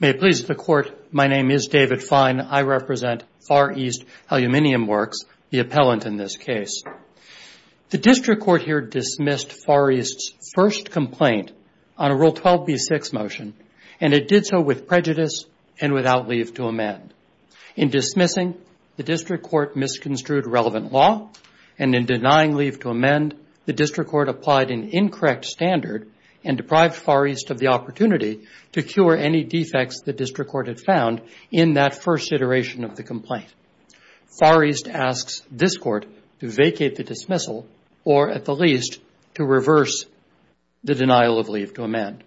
May it please the Court, my name is David Fine. I represent Far East Aluminium Works, the appellant in this case. The District Court here dismissed Far East's first complaint on a Rule 12b6 motion, and it did so with prejudice and without leave to amend. In dismissing, the District Court misconstrued relevant law, and in denying leave to amend, the District Court applied an incorrect standard and deprived Far East of the opportunity to cure any defects the District Court had found in that first iteration of the complaint. Far East asks this Court to vacate the dismissal or, at the least, to reverse the denial of leave to amend.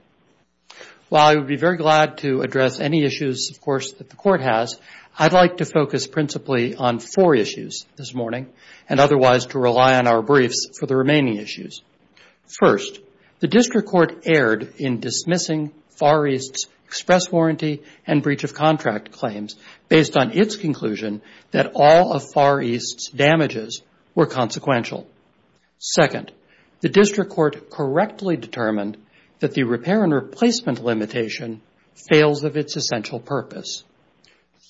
While I would be very glad to address any issues, of course, that the Court has, I'd like to focus principally on four issues this morning, and otherwise to rely on our briefs for the remaining issues. First, the District Court erred in dismissing Far East's express warranty and breach of contract claims, based on its conclusion that all of Far East's damages were consequential. Second, the District Court correctly determined that the repair and replacement limitation fails of its essential purpose.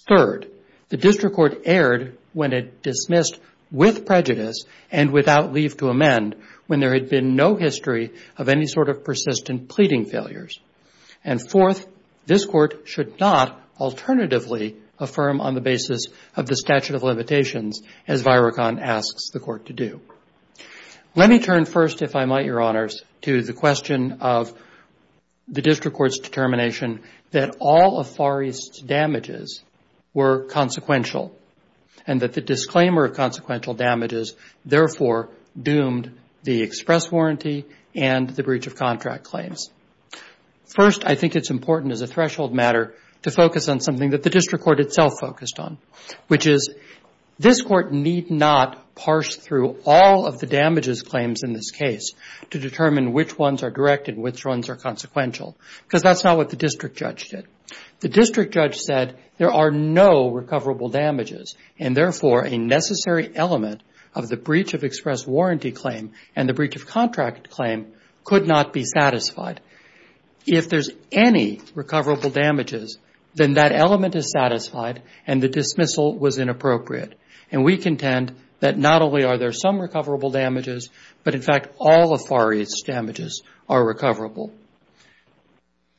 Third, the District Court erred when it dismissed with prejudice and without leave to amend, when there had been no history of any sort of persistent pleading failures. And fourth, this Court should not alternatively affirm on the basis of the statute of limitations, as Virocon asks the Court to do. Let me turn first, if I might, Your Honors, to the question of the District Court's determination that all of Far East's damages were consequential, and that the disclaimer of consequential damages therefore doomed the express warranty and the breach of contract claims. First, I think it's important as a threshold matter to focus on something that the District Court itself focused on, which is this Court need not parse through all of the damages claims in this case to determine which ones are direct and which ones are consequential, because that's not what the District Judge did. The District Judge said there are no recoverable damages, and therefore, a necessary element of the breach of express warranty claim and the breach of contract claim could not be satisfied. If there's any recoverable damages, then that element is satisfied and the dismissal was inappropriate. And we contend that not only are there some recoverable damages, but in fact, all of Far East's damages are recoverable.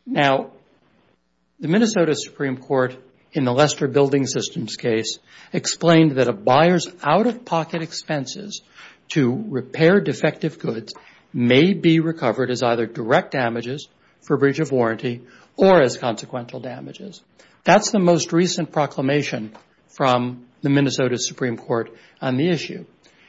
Now, the Minnesota Supreme Court, in the Lester Building Systems case, explained that a buyer's out-of-pocket expenses to repair defective goods may be recovered as either direct damages for breach of warranty or as consequential damages. That's the most recent proclamation from the Minnesota Supreme Court on the issue.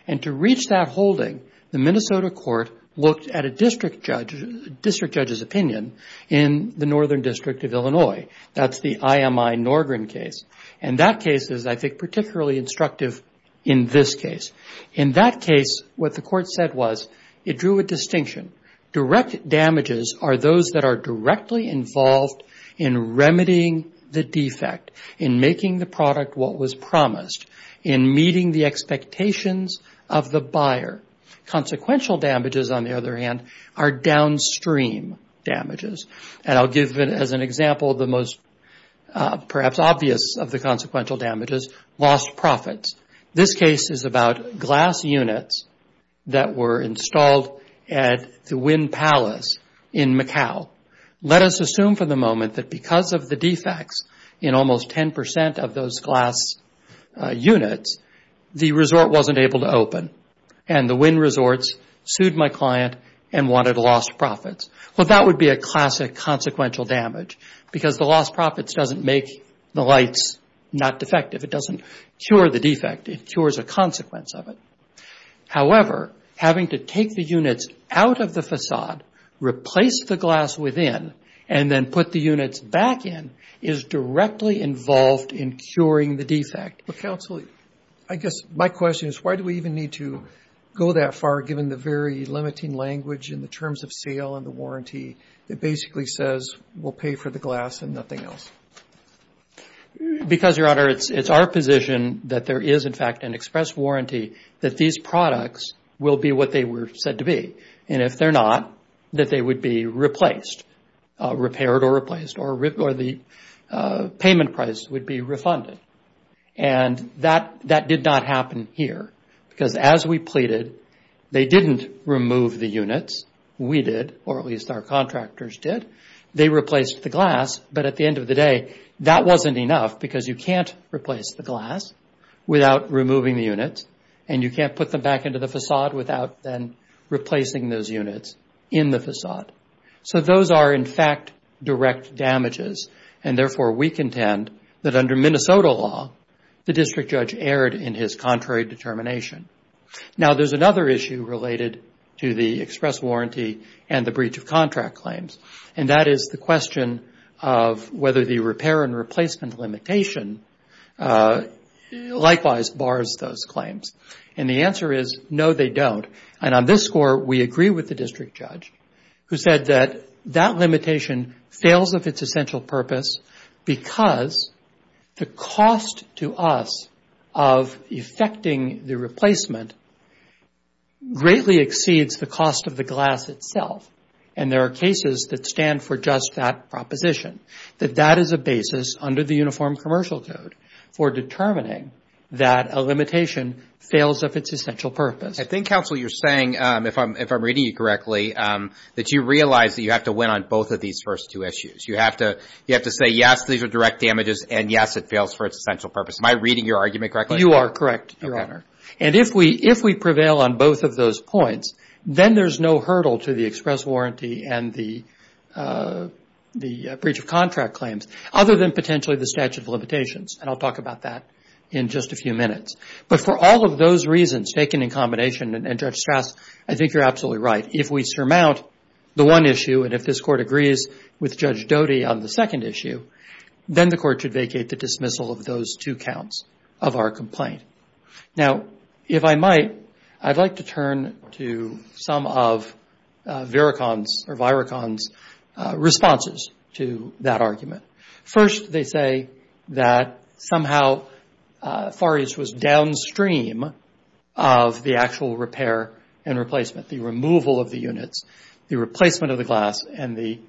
And to reach that holding, the Minnesota Court looked at a District Judge's opinion in the Northern District of Illinois. That's the IMI Norgren case, and that case is, I think, particularly instructive in this case. In that case, what the Court said was it drew a distinction. Direct damages are those that are directly involved in remedying the defect, in making the product what was promised, in meeting the expectations of the buyer. Consequential damages, on the other hand, are downstream damages. And I'll give, as an example, the most perhaps obvious of the consequential damages, lost profits. This case is about glass units that were installed at the Wynn Palace in Macau. Let us assume for the moment that because of the defects in almost 10 percent of those glass units, the resort wasn't able to open. And the Wynn Resorts sued my client and wanted lost profits. Well, that would be a classic consequential damage, because the lost profits doesn't make the lights not defective. It doesn't cure the defect. It cures a consequence of it. However, having to take the units out of the façade, replace the glass within, and then put the units back in is directly involved in curing the defect. Counsel, I guess my question is, why do we even need to go that far, given the very limiting language in the terms of sale and the warranty? It basically says, we'll pay for the glass and nothing else. Because, Your Honor, it's our position that there is, in fact, an express warranty that these products will be what they were said to be. And if they're not, that they would be replaced, repaired or replaced, or the payment price would be refunded. And that did not happen here, because as we pleaded, they didn't remove the units. We did, or at least our contractors did. They replaced the glass, but at the end of the day, that wasn't enough, because you can't replace the glass without removing the units. And you can't put them back into the façade without then replacing those units in the façade. So those are, in fact, direct damages. And therefore, we contend that under Minnesota law, the district judge erred in his contrary determination. Now, there's another issue related to the express warranty and the breach of contract claims, and that is the question of whether the repair and replacement limitation likewise bars those claims. And the answer is, no, they don't. And on this score, we agree with the district judge, who said that that limitation fails of its essential purpose because the cost to us of effecting the replacement greatly exceeds the cost of the glass itself. And there are cases that stand for just that proposition, that that is a basis under the Uniform Commercial Code for determining that a limitation fails of its essential purpose. I think, counsel, you're saying, if I'm reading you correctly, that you realize that you have to win on both of these first two issues. You have to say, yes, these are direct damages, and yes, it fails for its essential purpose. Am I reading your argument correctly? You are correct, Your Honor. And if we prevail on both of those points, then there's no hurdle to the express warranty and the breach of contract claims, other than potentially the statute of limitations. And I'll talk about that in just a few minutes. But for all of those reasons taken in combination, and Judge Strass, I think you're absolutely right. If we surmount the one issue, and if this Court agrees with Judge Doty on the second issue, then the Court should vacate the dismissal of those two counts of our complaint. Now, if I might, I'd like to turn to some of Virachon's responses to that argument. First, they say that somehow Fares was downstream of the actual repair and replacement, the removal of the units, the replacement of the glass, and the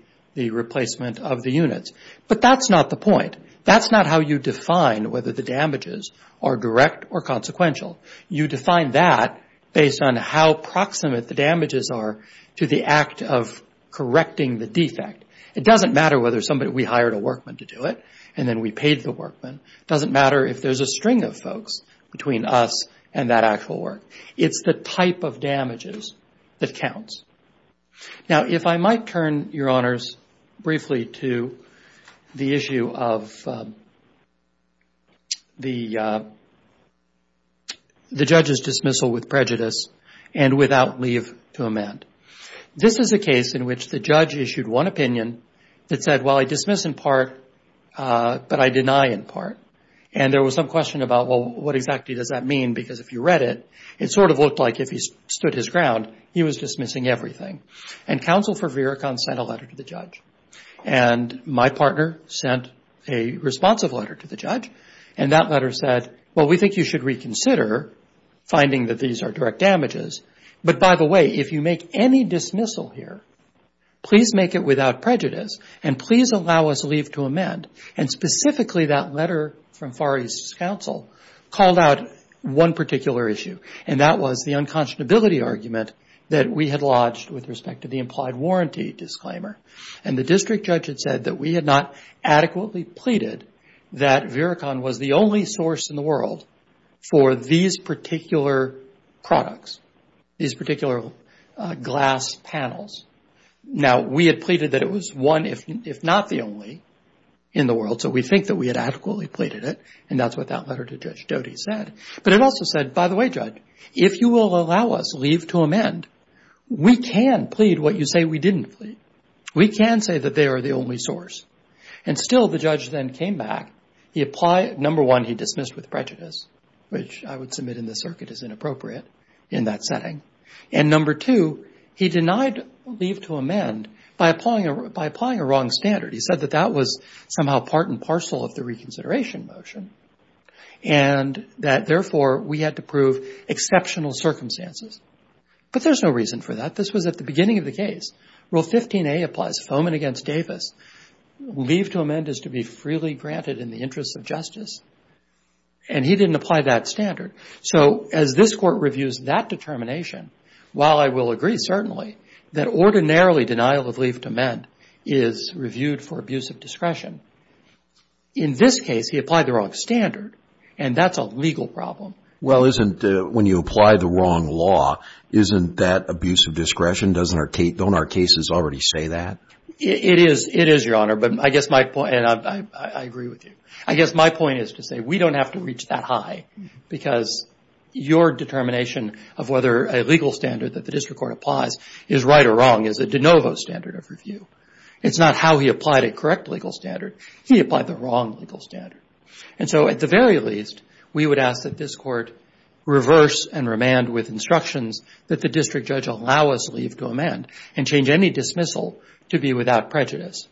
replacement of the units. But that's not the point. That's not how you define whether the damages are direct or consequential. You define that based on how proximate the damages are to the act of correcting the defect. It doesn't matter whether we hired a workman to do it, and then we paid the workman. It doesn't matter if there's a string of folks between us and that actual work. It's the type of damages that counts. So, let me turn to this case, the issue of the Judge's dismissal with prejudice and without leave to amend. This is a case in which the Judge issued one opinion that said, well I dismiss in part, but I deny in part. And there was some question about, well, what exactly does that mean? Because if you read it, it sort of looked like if he stood his ground, he was dismissing everything. And counsel for Virachon sent a letter to the Judge. And my partner sent a responsive letter to the Judge, and that letter said, well, we think you should reconsider finding that these are direct damages. But by the way, if you make any dismissal here, please make it without prejudice, and please allow us leave to amend. And specifically that letter from Far East's counsel called out one particular issue, and that was the unconscionability argument that we had lodged with respect to the implied warranty disclaimer. And the district judge had said that we had not adequately pleaded that Virachon was the only source in the world for these particular products, these particular glass panels. Now, we had pleaded that it was one, if not the only, in the world, so we think that we had adequately pleaded it, and that's what that letter to Judge Doty said. But it also said, by the way, Judge, if you will allow us leave to amend, we can plead what you say we didn't plead. We can say that they are the only source. And still the Judge then came back. He applied, number one, he dismissed with prejudice, which I would submit in this circuit is inappropriate in that setting. And number two, he denied leave to amend by applying a wrong standard. He said that that was somehow part and parcel of the reconsideration motion, and that, therefore, we had to prove exceptional circumstances. But there's no reason for that. This was at the beginning of the case. Rule 15a applies Fomen against Davis. Leave to amend is to be freely granted in the interests of justice. And he didn't apply that standard. So as this Court reviews that determination, while I will agree, certainly, that ordinarily denial of leave to amend is reviewed for abuse of discretion, in this case he applied the wrong standard, and that's a legal problem. Well, isn't when you apply the wrong law, isn't that abuse of discretion? Don't our cases already say that? It is. It is, Your Honor. But I guess my point, and I agree with you. I guess my point is to say we don't have to reach that high because your determination of whether a legal standard that the district court applies is right or wrong is a de novo standard of review. It's not how he applied a correct legal standard. He applied the wrong legal standard. And so at the very least, we would ask that this Court reverse and remand with instructions that the district judge allow us leave to amend and change any dismissal to be without prejudice.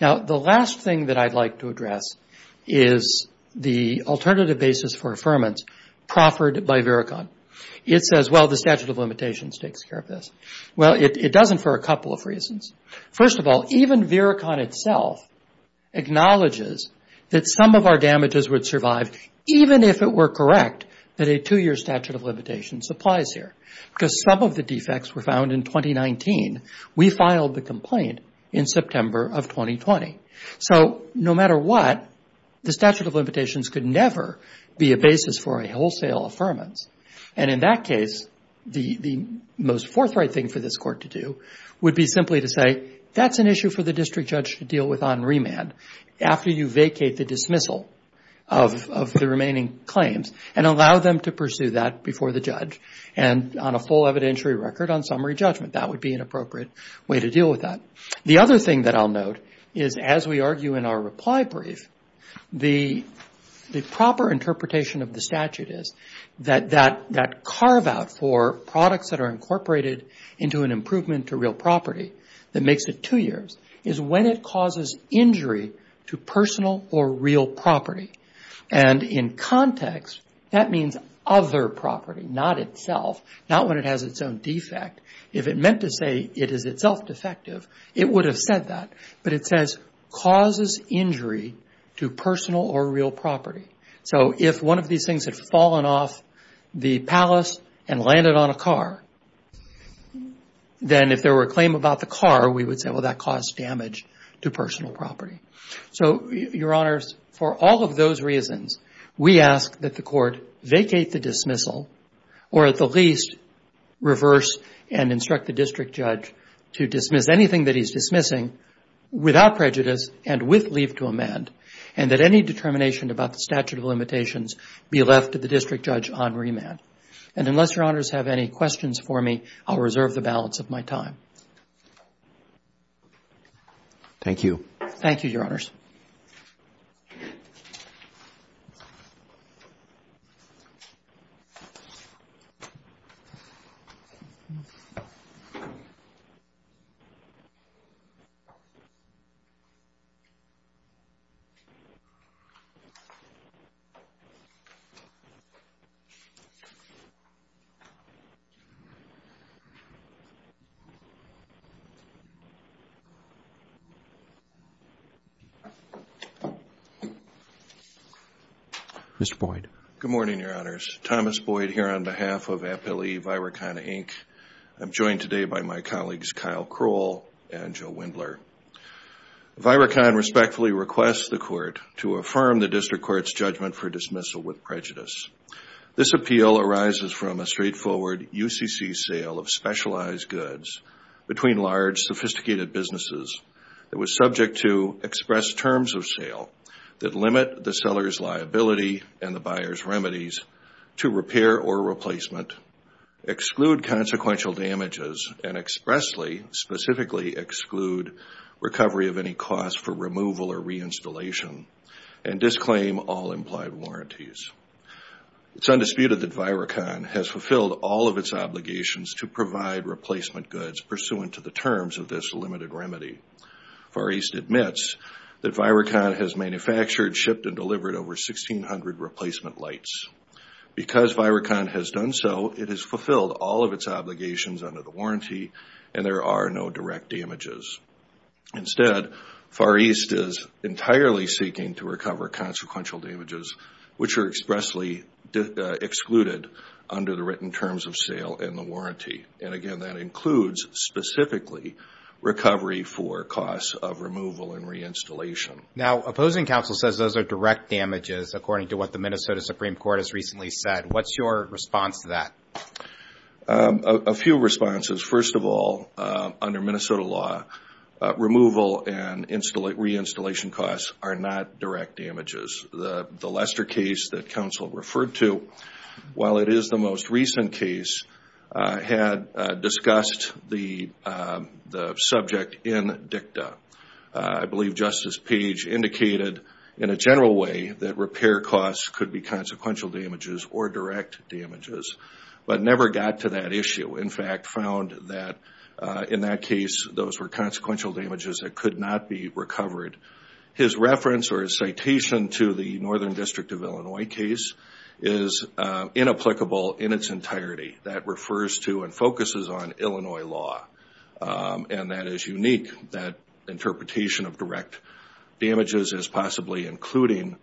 Now, the last thing that I'd like to address is the alternative basis for affirmance proffered by Vericon. It says, well, the statute of limitations takes care of this. Well, it doesn't for a couple of reasons. First of all, even Vericon itself acknowledges that some of our damages would survive even if it were correct that a two-year statute of limitations applies here because some of the defects were found in 2019. We filed the complaint in September of 2020. So no matter what, the statute of limitations could never be a basis for a wholesale affirmance. And in that case, the most forthright thing for this Court to do would be simply to say, that's an issue for the district judge to deal with on remand after you vacate the dismissal of the remaining claims and allow them to pursue that before the judge and on a full evidentiary record on summary judgment. That would be an appropriate way to deal with that. The other thing that I'll note is, as we argue in our reply brief, the proper interpretation of the statute is that that carve-out for products that are incorporated into an improvement to real property that makes it two years is when it causes injury to personal or real property. And in context, that means other property, not itself, not when it has its own defect. If it meant to say it is itself defective, it would have said that. But it says causes injury to personal or real property. So if one of these things had fallen off the palace and landed on a car, then if there were a claim about the car, we would say, well, that caused damage to personal property. So, Your Honors, for all of those reasons, we ask that the Court vacate the dismissal or at the least reverse and instruct the district judge to dismiss anything that he's dismissing without prejudice and with leave to amend and that any determination about the statute of limitations be left to the district judge on remand. And unless Your Honors have any questions for me, I'll reserve the balance of my time. Thank you. Thank you, Your Honors. Mr. Boyd. Good morning, Your Honors. Thomas Boyd here on behalf of Appellee Virocon, Inc. I'm joined today by my colleagues Kyle Kroll and Joe Wendler. Virocon respectfully requests the Court to affirm the district court's judgment for dismissal with prejudice. This appeal arises from a straightforward UCC sale of specialized goods between large, sophisticated businesses that was subject to express terms of sale that limit the seller's liability and the buyer's remedies to repair or replacement, exclude consequential damages, and expressly, specifically exclude recovery of any cost for removal or reinstallation, and disclaim all implied warranties. It's undisputed that Virocon has fulfilled all of its obligations to provide replacement goods pursuant to the terms of this limited remedy. Far East admits that Virocon has manufactured, shipped, and delivered over 1,600 replacement lights. Because Virocon has done so, it has fulfilled all of its obligations under the warranty, and there are no direct damages. Instead, Far East is entirely seeking to recover consequential damages, which are expressly excluded under the written terms of sale and the warranty. And again, that includes specifically recovery for costs of removal and reinstallation. Now, opposing counsel says those are direct damages, according to what the Minnesota Supreme Court has recently said. What's your response to that? A few responses. First of all, under Minnesota law, removal and reinstallation costs are not direct damages. The Lester case that counsel referred to, while it is the most recent case, had discussed the subject in dicta. I believe Justice Page indicated in a general way that repair costs could be consequential damages or direct damages, but never got to that issue. In fact, found that in that case those were consequential damages that could not be recovered. His reference or his citation to the Northern District of Illinois case is inapplicable in its entirety. That refers to and focuses on Illinois law, and that is unique. That interpretation of direct damages as possibly including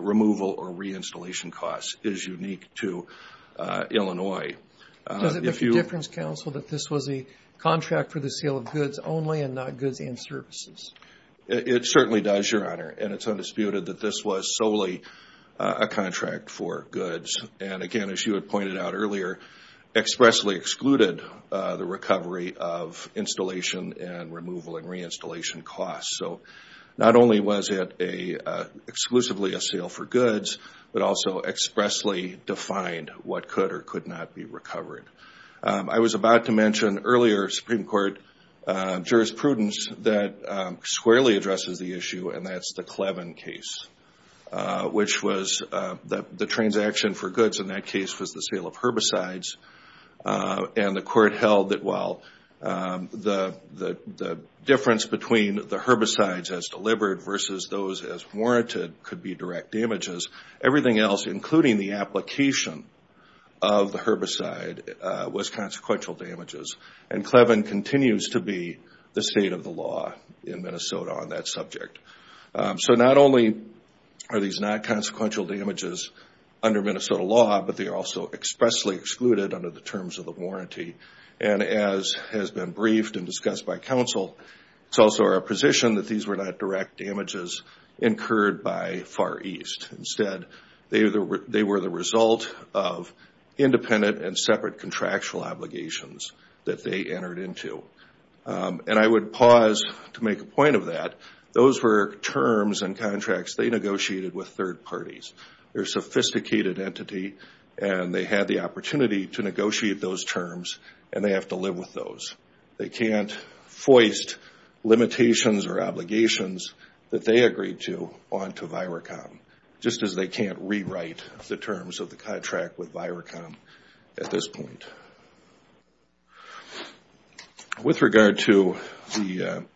removal or reinstallation costs is unique to Illinois. Does it make a difference, counsel, that this was a contract for the sale of goods only and not goods and services? It certainly does, Your Honor, and it's undisputed that this was solely a contract for goods. Again, as you had pointed out earlier, expressly excluded the recovery of installation and removal and reinstallation costs. Not only was it exclusively a sale for goods, but also expressly defined what could or could not be recovered. I was about to mention earlier Supreme Court jurisprudence that squarely addresses the issue, and that's the Clevin case, which was the transaction for goods in that case was the sale of herbicides, and the court held that while the difference between the herbicides as delivered versus those as warranted could be direct damages, everything else, including the application of the herbicide, was consequential damages. And Clevin continues to be the state of the law in Minnesota on that subject. So not only are these not consequential damages under Minnesota law, but they are also expressly excluded under the terms of the warranty. And as has been briefed and discussed by counsel, it's also our position that these were not direct damages incurred by Far East. Instead, they were the result of independent and separate contractual obligations that they entered into. And I would pause to make a point of that. Those were terms and contracts they negotiated with third parties. They're a sophisticated entity, and they had the opportunity to negotiate those terms, and they have to live with those. They can't foist limitations or obligations that they agreed to onto Viracom, just as they can't rewrite the terms of the contract with Viracom at this point. With regard to the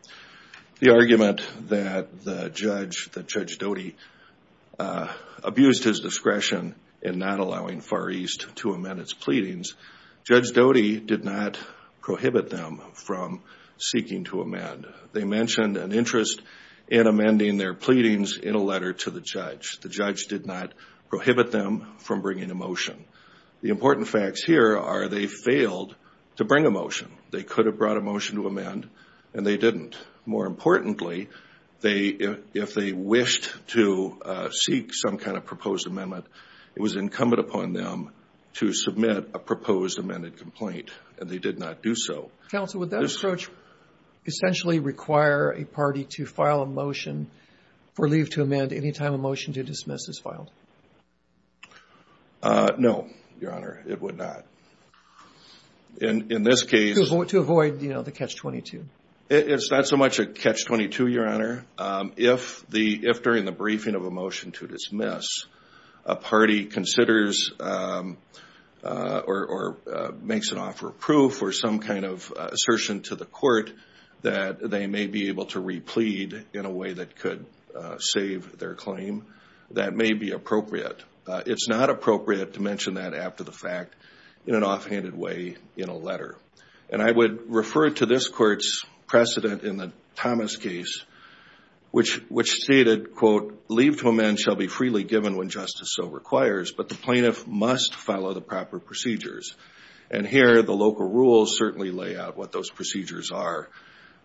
argument that Judge Doty abused his discretion in not allowing Far East to amend its pleadings, Judge Doty did not prohibit them from seeking to amend. They mentioned an interest in amending their pleadings in a letter to the judge. The judge did not prohibit them from bringing a motion. The important facts here are they failed to bring a motion. They could have brought a motion to amend, and they didn't. More importantly, if they wished to seek some kind of proposed amendment, it was incumbent upon them to submit a proposed amended complaint, and they did not do so. Counsel, would that approach essentially require a party to file a motion for leave to amend any time a motion to dismiss is filed? No, Your Honor, it would not. In this case. To avoid the catch-22. It's not so much a catch-22, Your Honor. If during the briefing of a motion to dismiss, a party considers or makes an offer of proof or some kind of assertion to the court that they may be able to replead in a way that could save their claim, that may be appropriate. It's not appropriate to mention that after the fact in an offhanded way in a letter. And I would refer to this court's precedent in the Thomas case, which stated, quote, leave to amend shall be freely given when justice so requires, but the plaintiff must follow the proper procedures. And here, the local rules certainly lay out what those procedures are.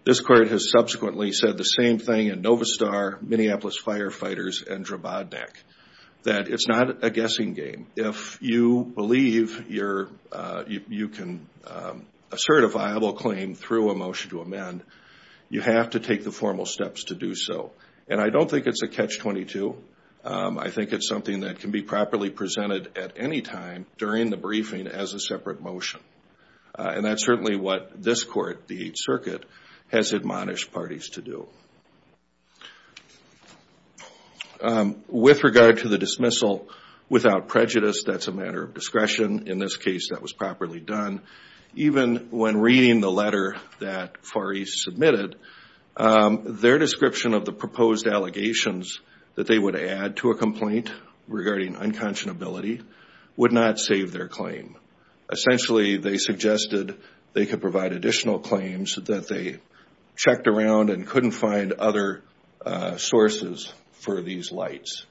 This court has subsequently said the same thing in Novastar, Minneapolis Firefighters, and Drobodnik, that it's not a guessing game. If you believe you can assert a viable claim through a motion to amend, you have to take the formal steps to do so. And I don't think it's a catch-22. I think it's something that can be properly presented at any time during the briefing as a separate motion. And that's certainly what this court, the Eighth Circuit, has admonished parties to do. With regard to the dismissal, without prejudice, that's a matter of discretion. In this case, that was properly done. Even when reading the letter that Fari submitted, their description of the proposed allegations that they would add to a complaint regarding unconscionability would not save their claim. Essentially, they suggested they could provide additional claims that they checked around and couldn't find other sources for these lights.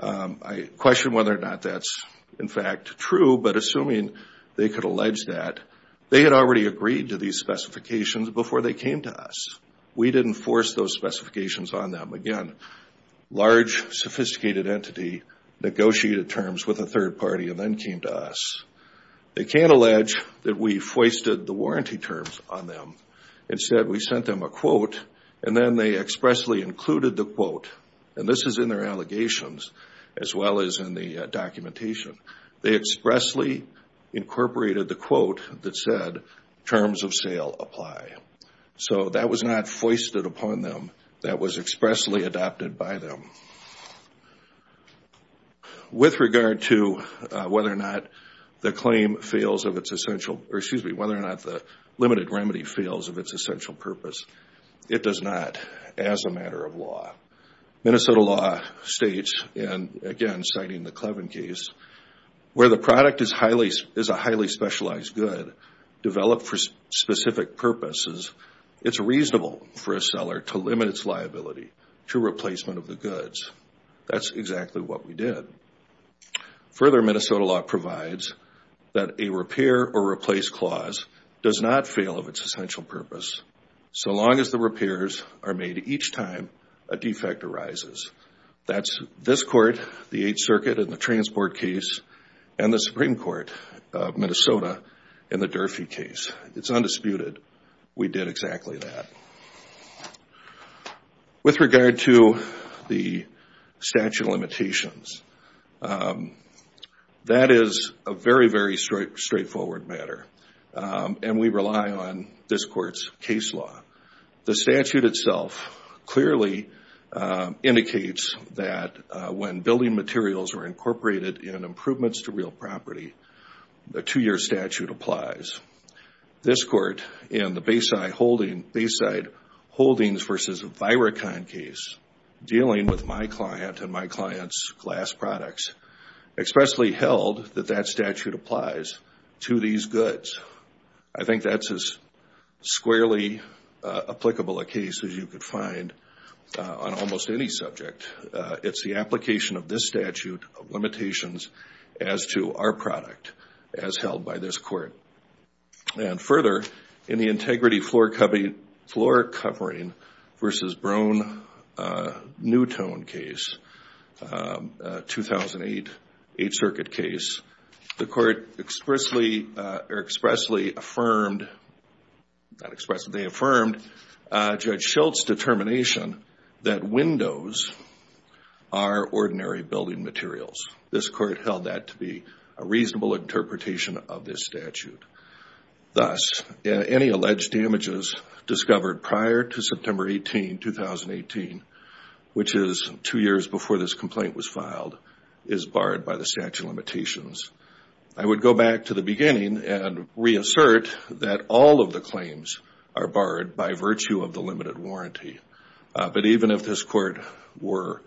I question whether or not that's in fact true, but assuming they could allege that, they had already agreed to these specifications before they came to us. We didn't force those specifications on them. Again, large, sophisticated entity negotiated terms with a third party and then came to us. They can't allege that we foisted the warranty terms on them. Instead, we sent them a quote, and then they expressly included the quote. And this is in their allegations as well as in the documentation. They expressly incorporated the quote that said, terms of sale apply. So that was not foisted upon them. That was expressly adopted by them. With regard to whether or not the claim fails of its essential, or excuse me, whether or not the limited remedy fails of its essential purpose, it does not as a matter of law. Minnesota law states, and again, citing the Clevin case, where the product is a highly specialized good developed for specific purposes, it's reasonable for a seller to limit its liability to replacement of the goods. That's exactly what we did. Further, Minnesota law provides that a repair or replace clause does not fail of its essential purpose, so long as the repairs are made each time a defect arises. That's this court, the Eighth Circuit in the Transport case, and the Supreme Court of Minnesota in the Durfee case. It's undisputed we did exactly that. With regard to the statute of limitations, that is a very, very straightforward matter, and we rely on this court's case law. The statute itself clearly indicates that when building materials are incorporated in improvements to real property, a two-year statute applies. This court in the Bayside Holdings v. Virocon case, dealing with my client and my client's glass products, expressly held that that statute applies to these goods. I think that's as squarely applicable a case as you could find on almost any subject. It's the application of this statute of limitations as to our product as held by this court. And further, in the Integrity Floor Covering v. Brown-Newton case, 2008 Eighth Circuit case, the court expressly affirmed Judge Schultz's determination that windows are ordinary building materials. This court held that to be a reasonable interpretation of this statute. Thus, any alleged damages discovered prior to September 18, 2018, which is two years before this complaint was filed, is barred by the statute of limitations. I would go back to the beginning and reassert that all of the claims are barred by virtue of the limited warranty. But even if this court were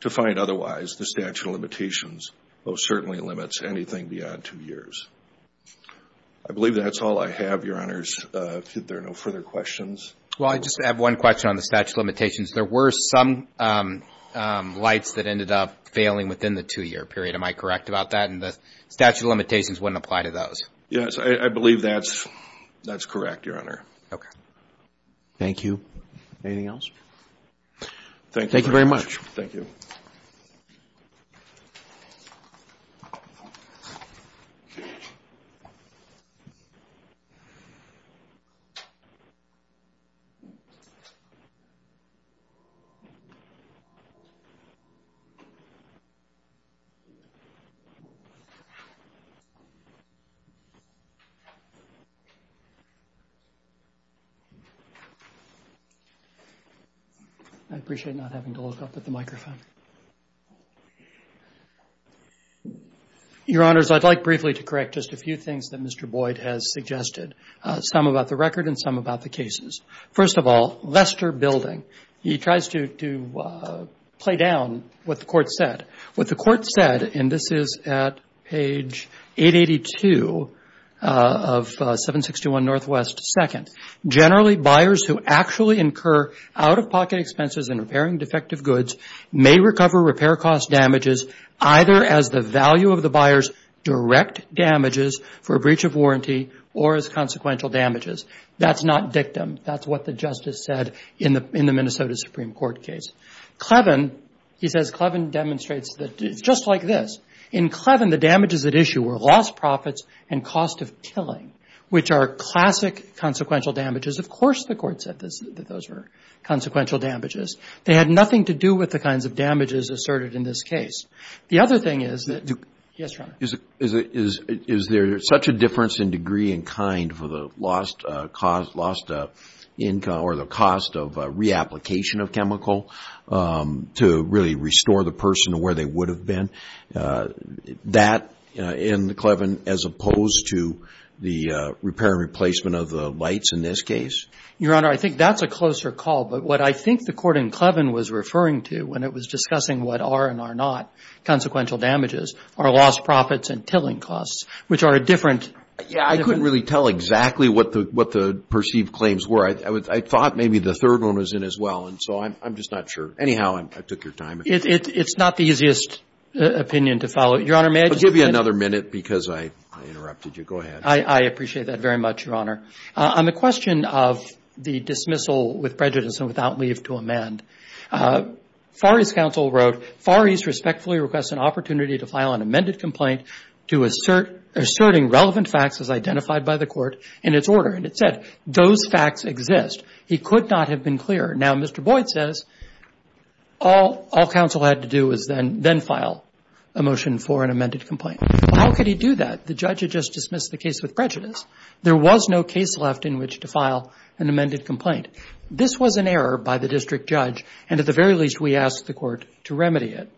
to find otherwise, the statute of limitations most certainly limits anything beyond two years. I believe that's all I have, Your Honors. If there are no further questions. Well, I just have one question on the statute of limitations. There were some lights that ended up failing within the two-year period. Am I correct about that? And the statute of limitations wouldn't apply to those. Yes. I believe that's correct, Your Honor. Okay. Anything else? Thank you very much. Thank you. I appreciate not having to look up at the microphone. Your Honors, I'd like briefly to correct just a few things that Mr. Boyd has suggested, some about the record and some about the cases. First of all, Leicester Building. You see that it says, he tries to play down what the court said. What the court said, and this is at page 882 of 761 Northwest II, That's not dictum. That's what the justice said in the Minnesota Supreme Court case. Clevin, he says, Clevin demonstrates that it's just like this. In Clevin, the damages at issue were lost profits and cost of killing, which are classic consequential damages. Of course the court said that those were consequential damages. They had nothing to do with the kinds of damages asserted in this case. The other thing is that, yes, Your Honor. Is there such a difference in degree and kind for the lost income or the cost of reapplication of chemical to really restore the person to where they would have been? That in Clevin as opposed to the repair and replacement of the lights in this case? Your Honor, I think that's a closer call. But what I think the court in Clevin was referring to when it was discussing what are and are not consequential damages are lost profits and killing costs, which are a different. Yeah, I couldn't really tell exactly what the perceived claims were. I thought maybe the third one was in as well. And so I'm just not sure. Anyhow, I took your time. It's not the easiest opinion to follow. Your Honor, may I just. I'll give you another minute because I interrupted you. Go ahead. I appreciate that very much, Your Honor. On the question of the dismissal with prejudice and without leave to amend, Far East counsel wrote, Far East respectfully requests an opportunity to file an amended complaint to asserting relevant facts as identified by the court in its order. And it said those facts exist. He could not have been clearer. Now, Mr. Boyd says all counsel had to do was then file a motion for an amended complaint. How could he do that? The judge had just dismissed the case with prejudice. There was no case left in which to file an amended complaint. This was an error by the district judge. And at the very least, we asked the court to remedy it.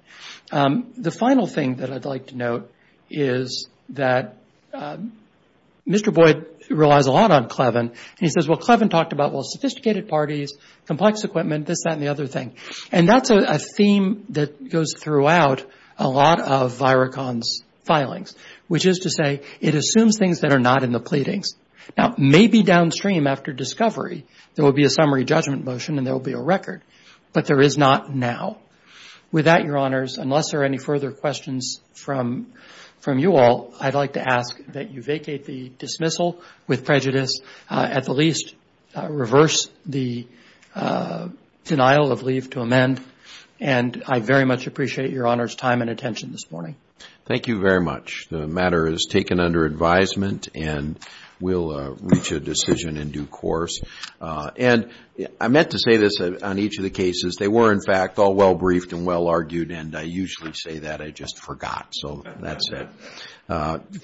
The final thing that I'd like to note is that Mr. Boyd relies a lot on Clevin. And he says, well, Clevin talked about, well, sophisticated parties, complex equipment, this, that, and the other thing. And that's a theme that goes throughout a lot of Virocon's filings, which is to say it assumes things that are not in the pleadings. Now, maybe downstream after discovery, there will be a summary judgment motion and there will be a record. But there is not now. With that, Your Honors, unless there are any further questions from you all, I'd like to ask that you vacate the dismissal with prejudice, at the least reverse the denial of leave to amend. And I very much appreciate Your Honors' time and attention this morning. Thank you very much. The matter is taken under advisement and will reach a decision in due course. And I meant to say this on each of the cases. They were, in fact, all well briefed and well argued. And I usually say that. I just forgot. So that's it.